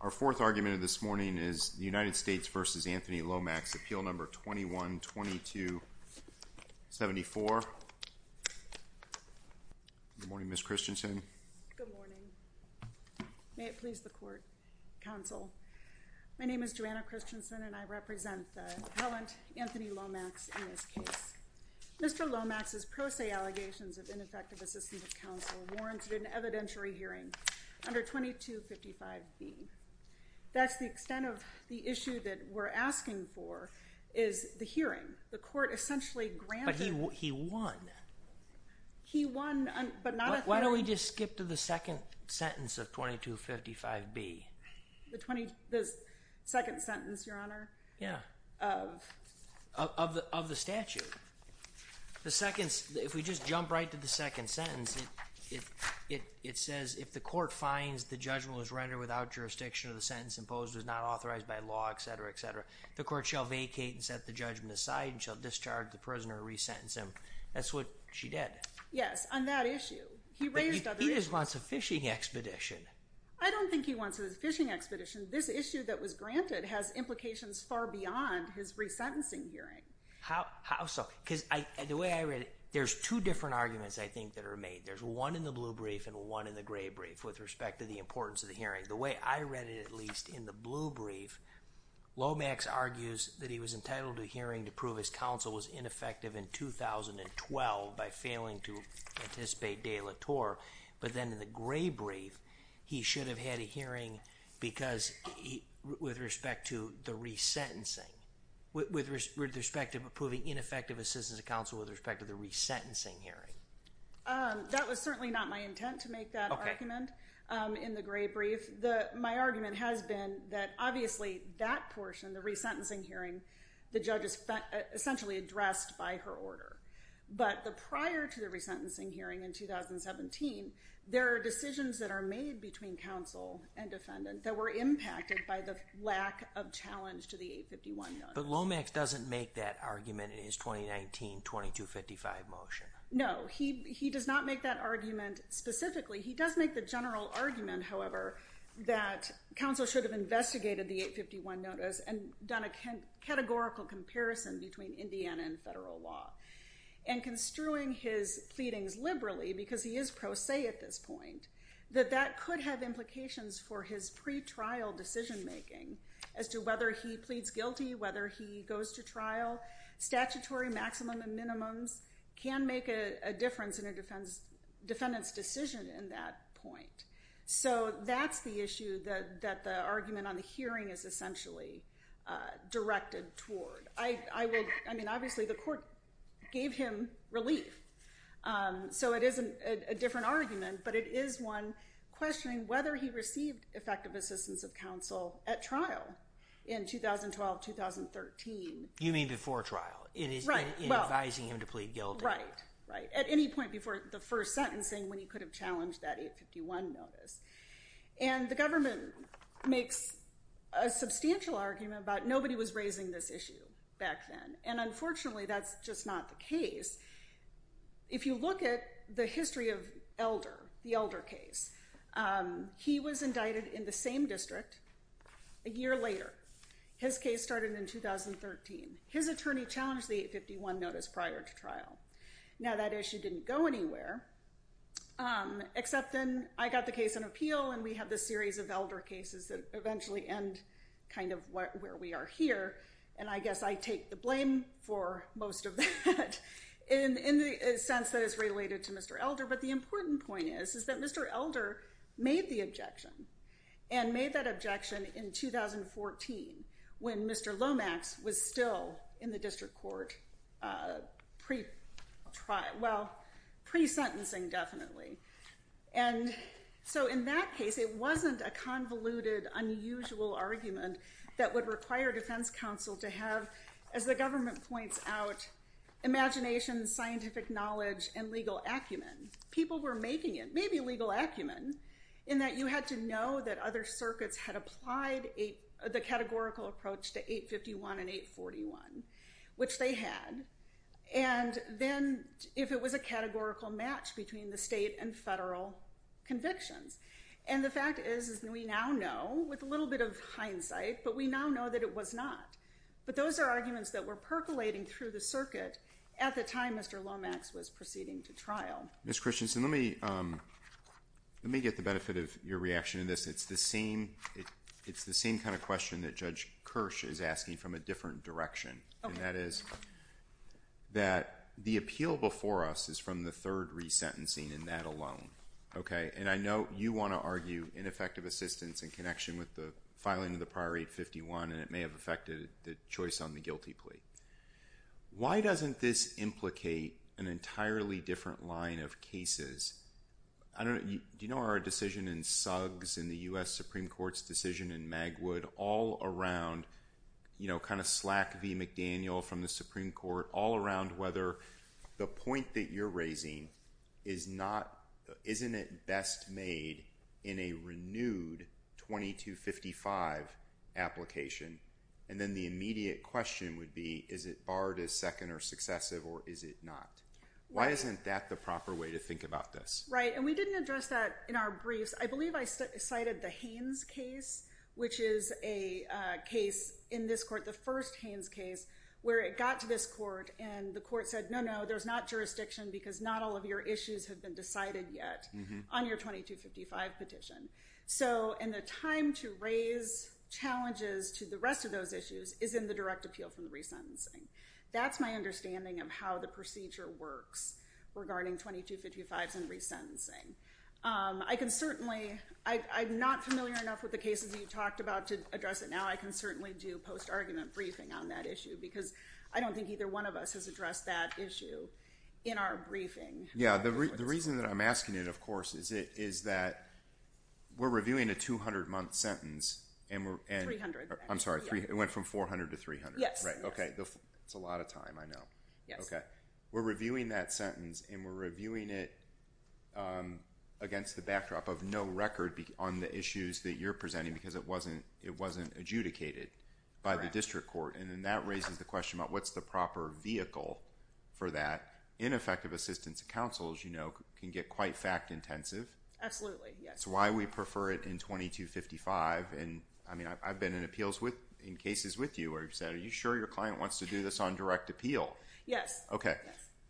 Our fourth argument of this morning is United States v. Anthony Lomax, Appeal No. 21-22-74. Good morning, Ms. Christensen. Good morning. May it please the court, counsel. My name is Joanna Christensen, and I represent the appellant, Anthony Lomax, in this case. Mr. Lomax's pro se allegations of ineffective assistance to counsel warrants an evidentiary hearing under 2255B. That's the extent of the issue that we're asking for, is the hearing. The court essentially granted— But he won. He won, but not at the— Why don't we just skip to the second sentence of 2255B? The second sentence, Your Honor? Yeah, of the statute. The second—if we just jump right to the second sentence, it says, if the court finds the judgment was rendered without jurisdiction or the sentence imposed was not authorized by law, etc., etc., the court shall vacate and set the judgment aside and shall discharge the prisoner or resentence him. That's what she did. Yes, on that issue. He raised other issues. But he just wants a fishing expedition. I don't think he wants a fishing expedition. This issue that was granted has implications far beyond his resentencing hearing. How so? Because the way I read it, there's two different arguments I think that are made. There's one in the blue brief and one in the gray brief with respect to the importance of the hearing. The way I read it, at least, in the blue brief, Lomax argues that he was entitled to a hearing to prove his counsel was ineffective in 2012 by failing to anticipate de la Torre. But then in the gray brief, he should have had a hearing because—with respect to the resentencing—with respect to proving ineffective assistance of counsel with respect to the resentencing hearing. That was certainly not my intent to make that argument in the gray brief. My argument has been that, obviously, that portion, the resentencing hearing, the judge essentially addressed by her order. But prior to the resentencing hearing in 2017, there are decisions that are made between counsel and defendant that were impacted by the lack of challenge to the 851 notice. But Lomax doesn't make that argument in his 2019 2255 motion. No, he does not make that argument specifically. He does make the general argument, however, that counsel should have investigated the 851 notice and done a categorical comparison between Indiana and federal law. And construing his pleadings liberally, because he is pro se at this point, that that could have implications for his pretrial decision-making as to whether he pleads guilty, whether he goes to trial. Statutory maximum and minimums can make a difference in a defendant's decision in that point. So that's the issue that the argument on the hearing is essentially directed toward. I mean, obviously, the court gave him relief. So it is a different argument, but it is one questioning whether he received effective assistance of counsel at trial in 2012-2013. You mean before trial? In advising him to plead guilty? Right. At any point before the first sentencing when he could have challenged that 851 notice. And the government makes a substantial argument about nobody was raising this issue back then. And unfortunately, that's just not the case. If you look at the history of Elder, the Elder case, he was indicted in the same district a year later. His case started in 2013. His attorney challenged the 851 notice prior to trial. Now, that issue didn't go anywhere, except then I got the case on appeal and we had this series of Elder cases that eventually end kind of where we are here. And I guess I take the blame for most of that in the sense that it's related to Mr. Elder. But the important point is that Mr. Elder made the objection and made that objection in 2014 when Mr. Lomax was still in the district court pre-trial, well, pre-sentencing definitely. And so in that case, it wasn't a convoluted, unusual argument that would require defense counsel to have, as the government points out, imagination, scientific knowledge, and legal acumen. People were making it, categorical approach to 851 and 841, which they had. And then if it was a categorical match between the state and federal convictions. And the fact is we now know, with a little bit of hindsight, but we now know that it was not. But those are arguments that were percolating through the circuit at the time Mr. Lomax was proceeding to trial. Ms. Christensen, let me get the benefit of your reaction to this. It's the same kind of question that Judge Kirsch is asking from a different direction. And that is that the appeal before us is from the third re-sentencing and that alone. And I know you want to argue ineffective assistance in connection with the filing of the prior 851 and it may have affected the choice on the guilty plea. Why doesn't this implicate an entirely different line of cases? Do you know our decision in Suggs and the U.S. Supreme Court's decision in Magwood, all around kind of Slack v. McDaniel from the Supreme Court, all around whether the point that you're raising isn't it best made in a renewed 2255 application? And then the immediate question would be is it barred as second or successive or is it not? Why isn't that the proper way to think about this? Right. And we didn't address that in our briefs. I believe I cited the Haynes case, which is a case in this court, the first Haynes case, where it got to this court and the court said no, no, there's not jurisdiction because not all of your issues have been decided yet on your 2255 petition. So in the time to raise challenges to the rest of those issues is in the direct appeal from the re-sentencing. That's my understanding of how the procedure works regarding 2255s and re-sentencing. I can certainly, I'm not familiar enough with the cases you talked about to address it now. I can certainly do post-argument briefing on that issue because I don't think either one of us has addressed that issue in our briefing. Yeah. The reason that I'm asking it, of course, is that we're reviewing a 200-month sentence. 300. I'm sorry. It went from 400 to 300. Yes. Right. Okay. It's a lot of time, I know. Yes. Okay. We're reviewing that sentence and we're reviewing it because it wasn't adjudicated by the district court. And then that raises the question about what's the proper vehicle for that in effective assistance of counsel, as you know, can get quite fact intensive. Absolutely. Yes. That's why we prefer it in 2255. I mean, I've been in appeals with, in cases with you where you've said, are you sure your client wants to do this on direct appeal? Yes. Okay.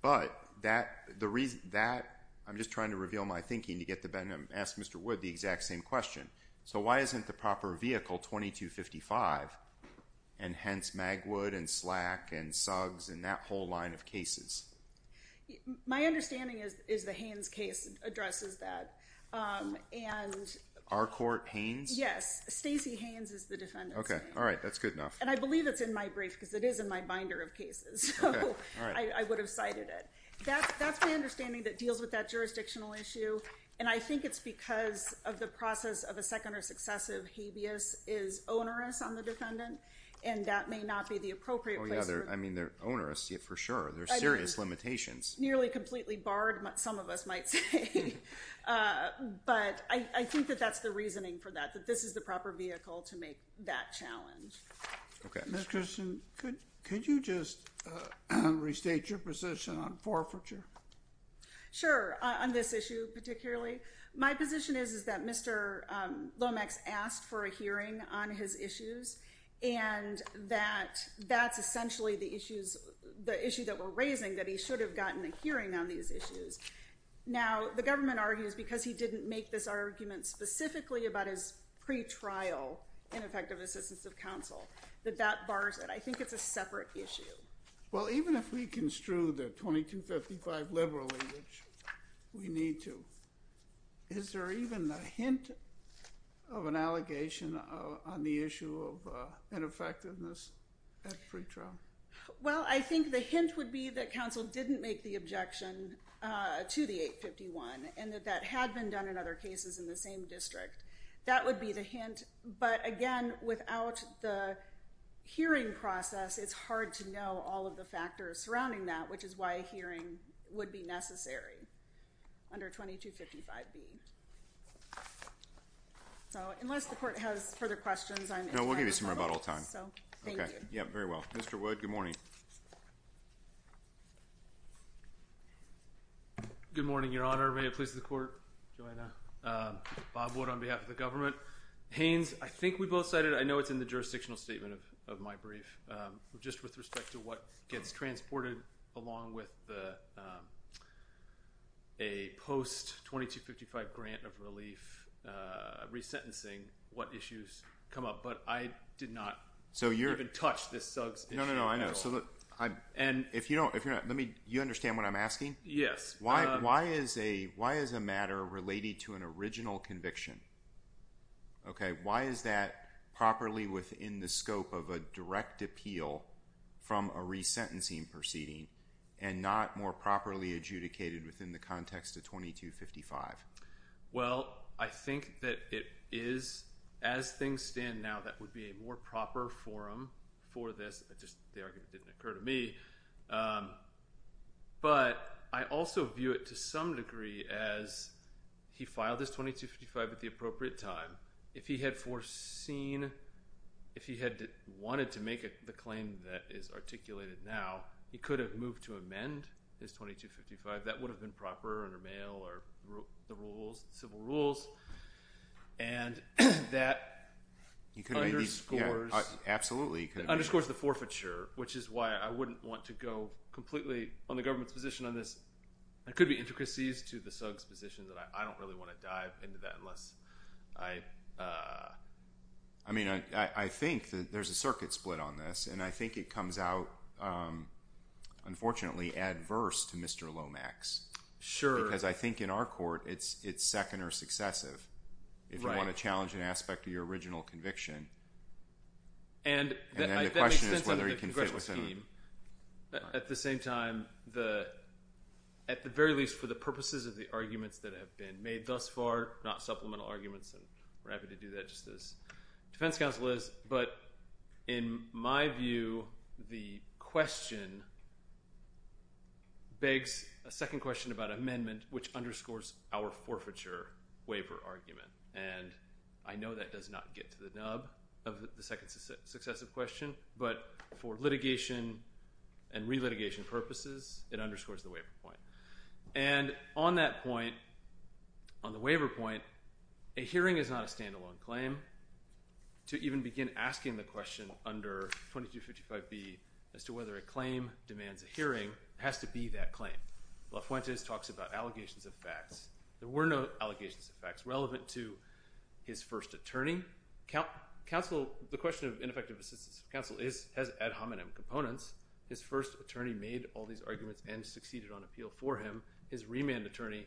But that, I'm just trying to reveal my thinking to get to ask Mr. Wood the exact same question. So why isn't the proper vehicle 2255 and hence Magwood and Slack and Suggs and that whole line of cases? My understanding is the Haynes case addresses that. And our court Haynes? Yes. Stacey Haynes is the defendant's name. Okay. All right. That's good enough. And I believe it's in my brief because it is in my binder of cases. I would have cited it. That's my understanding that deals with that jurisdictional issue. And I think it's because of the process of a second or successive habeas is onerous on the defendant. And that may not be the appropriate place. I mean, they're onerous yet for sure. There are serious limitations. Nearly completely barred. Some of us might say. But I think that that's the reasoning for that, that this is the proper vehicle to make that challenge. Could you just restate your position on forfeiture? Sure. On this issue, particularly my position is, is that Mr. Lomax asked for a hearing on his issues and that that's essentially the issues, the issue that we're raising, that he should have gotten a hearing on these issues. Now, the government argues because he didn't make this argument specifically about his pretrial ineffective assistance of counsel that that bars it. I think it's a separate issue. Well, even if we construe that 2255 liberally, which we need to, is there even a hint of an objection? I think the hint would be that counsel didn't make the objection to the 851 and that that had been done in other cases in the same district. That would be the hint. But again, without the hearing process, it's hard to know all of the factors surrounding that, which is why a hearing would be necessary under 2255B. So unless the court has further questions. No, we'll give you some more about all time. Okay. Yeah, very well. Mr. Wood, good morning. Good morning, Your Honor. May it please the court. Bob Wood on behalf of the government. Haynes, I think we both said it. I know it's in the jurisdictional statement of my brief. Just with respect to what gets transported along with a post-2255 grant of relief resentencing, what issues come up? But I did not even touch this Suggs issue at all. You understand what I'm asking? Yes. Why is a matter related to an original conviction? Why is that properly within the scope of a direct appeal from a resentencing proceeding and not more properly adjudicated within the context of 2255? Well, I think that it is, as things stand now, that would be a more proper forum for this. The argument didn't occur to me. But I also view it to some degree as he filed his 2255 at the appropriate time. If he had foreseen, if he had wanted to make the claim that is articulated now, he could have moved to amend his 2255. That would have been proper under mail or civil rules. And that underscores the forfeiture, which is why I wouldn't want to go completely on the government's position on this. There could be intricacies to the Suggs position that I don't really want to dive into that. I think there's a circuit split on this. And I think it comes out, unfortunately, adverse to Mr. Lomax. Because I think in our court it's second or successive. If you want to challenge an aspect of your original conviction. At the same time, at the very least for the purposes of the arguments that have been made thus far, not supplemental arguments, and we're happy to do that just as defense counsel is. But in my view, the question begs a second question about amendment, which underscores our forfeiture waiver argument. And I know that does not get to the nub of the second successive question. But for litigation and re-litigation purposes, it underscores the waiver point. And on that point, on the waiver point, a hearing is not a standalone claim. To even begin asking the question under 2255B as to whether a claim demands a hearing has to be that claim. La Fuentes talks about allegations of facts. There were no allegations of facts relevant to his first attorney. The question of ineffective assistance of counsel has ad hominem components. His first attorney made all these arguments and succeeded on appeal for him. His remand attorney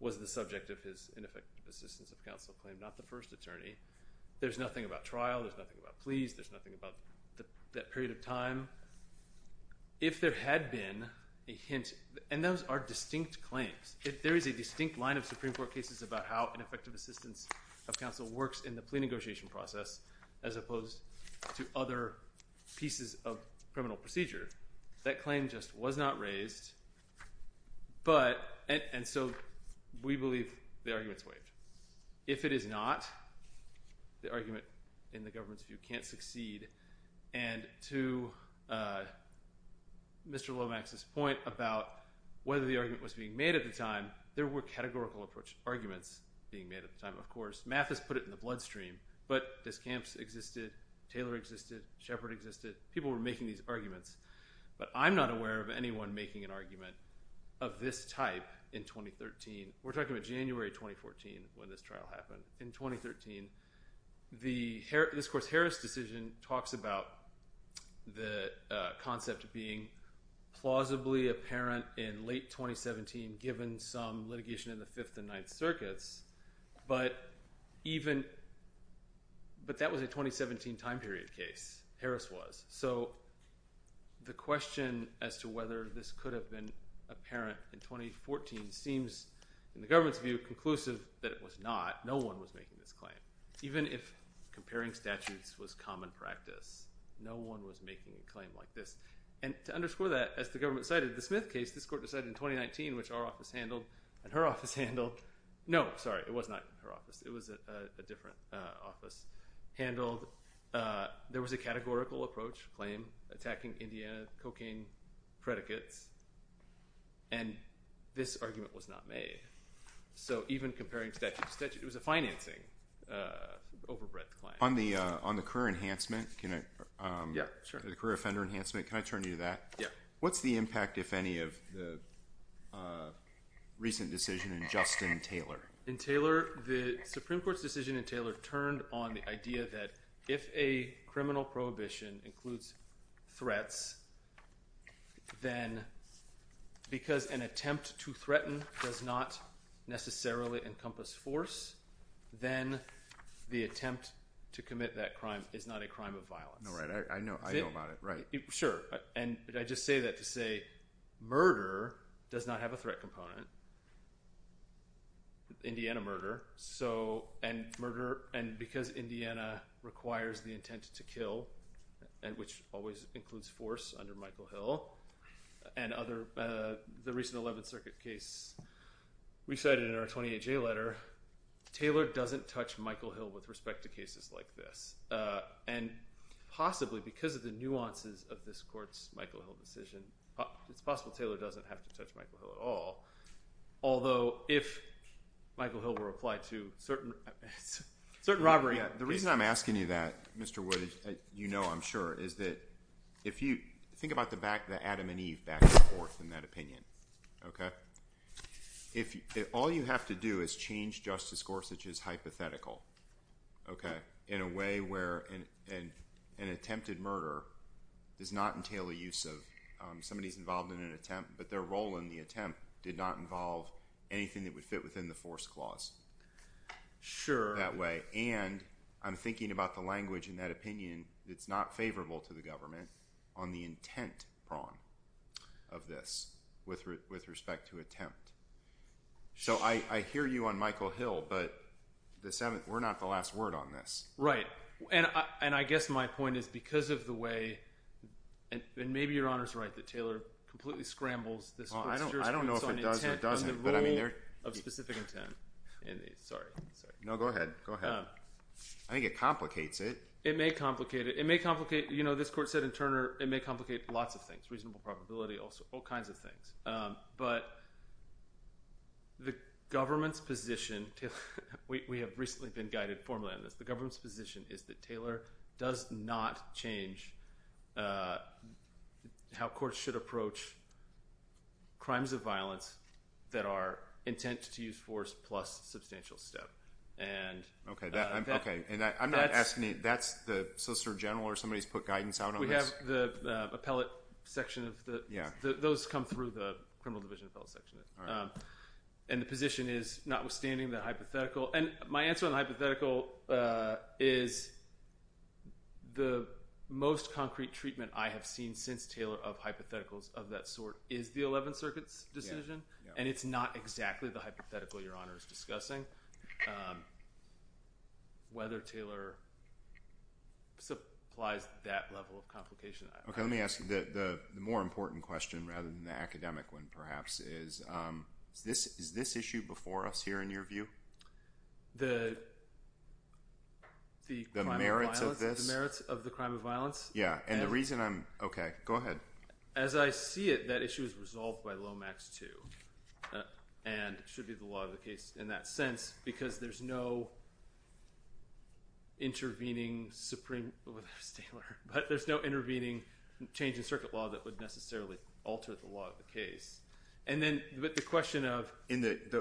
was the subject of his ineffective assistance of counsel claim, not the first attorney. There's nothing about trial. There's nothing about pleas. There's nothing about that period of time. If there had been a hint, and those are distinct claims, if there is a distinct line of Supreme Court cases about how ineffective assistance of counsel works in the plea negotiation process as opposed to other pieces of criminal procedure, that claim just was not raised. And so we believe the argument's waived. If it is not, the argument in the government's view can't succeed. And to Mr. Lomax's point about whether the argument was being made at the time, there were categorical arguments being made at the time, of course. Math has put it in the bloodstream, but Discamps existed, Taylor existed, Shepard existed. People were making these arguments. But I'm not aware of anyone making an argument of this type in 2013. We're talking about January 2014 when this trial happened. In 2013, this course Harris decision talks about the concept of being plausibly apparent in late 2017, given some litigation in the 5th and 9th circuits. But that was a 2017 time period case. Harris was. So the question as to whether this could have been apparent in 2014 seems, in the government's view, conclusive that it was not. No one was making this claim. Even if comparing statutes was common practice, no one was making a claim like this. And to underscore that, as the government cited the Smith case, this court decided in 2019, which our office handled and her office handled. No, sorry, it was not her office. It was a different office handled. There was a categorical approach claim attacking India cocaine predicates. And this argument was not made. So even comparing statute to statute, it was a financing overbread claim. On the career enhancement, the career offender enhancement, can I turn you to that? What's the impact, if any, of the recent decision in Justin Taylor? In Taylor, the Supreme Court's decision in Taylor turned on the idea that if a crime, because an attempt to threaten does not necessarily encompass force, then the attempt to commit that crime is not a crime of violence. Right. Sure. And I just say that to say murder does not have a threat component. Indiana murder. So and murder. And because Indiana requires the other, the recent 11th Circuit case we cited in our 28-J letter, Taylor doesn't touch Michael Hill with respect to cases like this. And possibly because of the nuances of this court's Michael Hill decision, it's possible Taylor doesn't have to touch Michael Hill at all. Although if Michael Hill were applied to certain certain robbery. The reason I'm asking you that, Mr. Wood, you know I'm sure, is that if you think about the Adam and Eve back and forth in that opinion. If all you have to do is change Justice Gorsuch's hypothetical in a way where an attempted murder does not entail a use of, somebody's involved in an attempt, but their role in the attempt did not involve anything that would fit within the force clause. Sure. That way. And I'm thinking about the language in that opinion that's not favorable to the government on the intent prong of this with respect to attempt. So I hear you on Michael Hill, but we're not the last word on this. Right. And I guess my point is because of the way and maybe your Honor's right that Taylor completely scrambles this. I don't know if it does or doesn't. But I mean there. Of specific intent. Sorry. No, go ahead. Go ahead. I think it complicates it. It may complicate it. It may complicate, you know this court said in Turner, it may complicate lots of things. Reasonable probability also. All kinds of things. But the government's position, Taylor, we have recently been guided formally on this, the government's position is that Taylor does not change how courts should approach crimes of violence that are intent to use force plus substantial step. Okay. I'm not asking, that's the Solicitor General or somebody's put guidance out on this? We have the appellate section of the, those come through the criminal division appellate section. And the position is notwithstanding the hypothetical and my answer on the hypothetical is the most concrete treatment I have seen since Taylor of hypotheticals of that sort is the 11th Circuit's decision. And it's not exactly the hypothetical your Honor is discussing. Whether Taylor supplies that level of complication. Okay, let me ask you the more important question rather than the academic one perhaps is, is this issue before us here in your view? The merits of this? The merits of the crime of violence? Yeah. And the reason I'm, okay, go ahead. As I see it, that issue is resolved by Lomax 2. And should be the law of the case in that sense because there's no intervening Supreme, oh that was Taylor, but there's no intervening change in circuit law that would necessarily alter the law of the case. And then the question of. The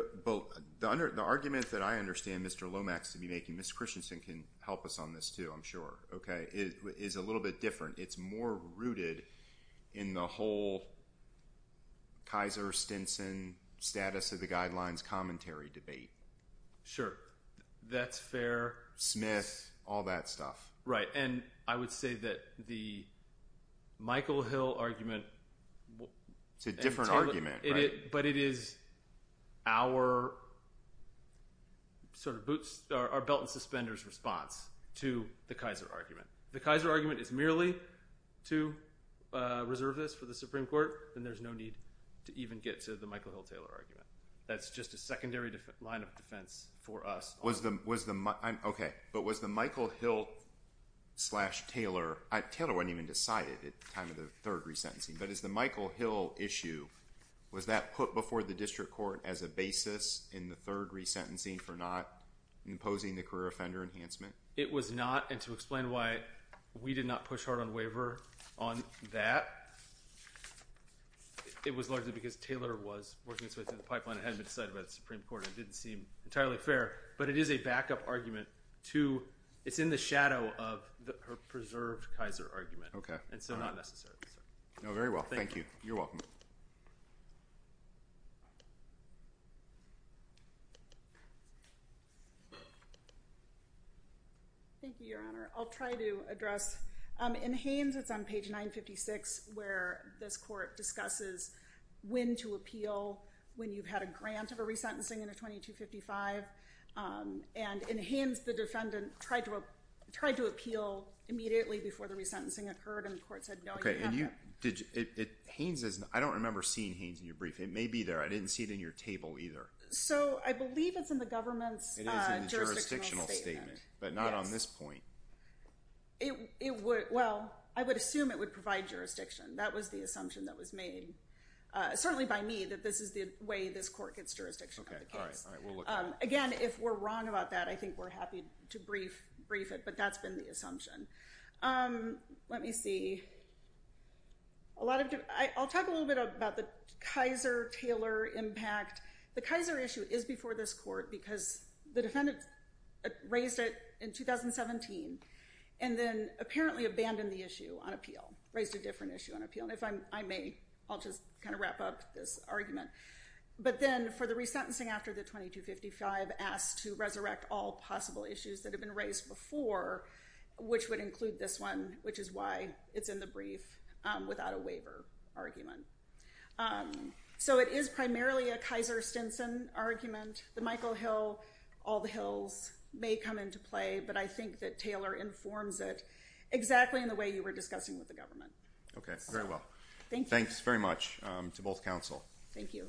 argument that I understand Mr. Lomax to be making, Ms. Christensen can help us on this too I'm sure. Okay, is a little bit different. It's more rooted in the whole Kaiser Stinson status of the guidelines commentary debate. Sure. That's fair. Smith, all that stuff. Right. And I would say that the Michael Hill argument. It's a different argument. But it is our sort of boots, our belt and suspenders response to the Kaiser argument. The Kaiser argument is merely to reserve this for the Supreme Court. Then there's no need to even get to the Michael Hill-Taylor argument. That's just a secondary line of defense for us. Was the, was the, okay. But was the Michael Hill slash Taylor, Taylor wasn't even decided at the time of the third resentencing. But is the Michael Hill issue, was that put before the district court as a basis in the third resentencing for not imposing the career offender enhancement? It was not. And to explain why we did not push hard on waiver on that. It was largely because Taylor was working in the pipeline. It hadn't been decided by the Supreme Court. It didn't seem entirely fair. But it is a backup argument to, it's in the shadow of her preserved Kaiser argument. Okay. And so not necessarily. Very well. Thank you. You're welcome. Thank you, Your Honor. I'll try to address. In Haynes, it's on page 956 where this court discusses when to appeal when you've had a grant of a resentencing in a 2255. And in Haynes, the defendant tried to appeal immediately before the resentencing occurred and the court said, no, you haven't. Haynes is, I don't remember seeing Haynes in your brief. It may be there. I didn't see it in your table either. So I believe it's in the government's jurisdictional statement. But not on this point. Well, I would assume it would provide jurisdiction. That was the assumption that was made. Certainly by me that this is the way this court gets jurisdiction. Again, if we're wrong about that, I think we're happy to brief it. But that's been the assumption. Let me see. I'll talk a little bit about the Kaiser-Taylor impact. The Kaiser issue is before this court because the defendant raised it in 2017 and then apparently abandoned the issue on appeal, raised a different issue on appeal. And if I may, I'll just kind of wrap up this argument. But then for the resentencing after the 2255 asked to resurrect all possible issues that have been raised before, which would include this one, which is why it's in the brief without a waiver argument. So it is primarily a Kaiser-Stinson argument. The Michael Hill, all the Hills may come into play. But I think that Taylor informs it exactly in the way you were discussing with the government. Okay, very well. Thanks very much to both counsel. Thank you.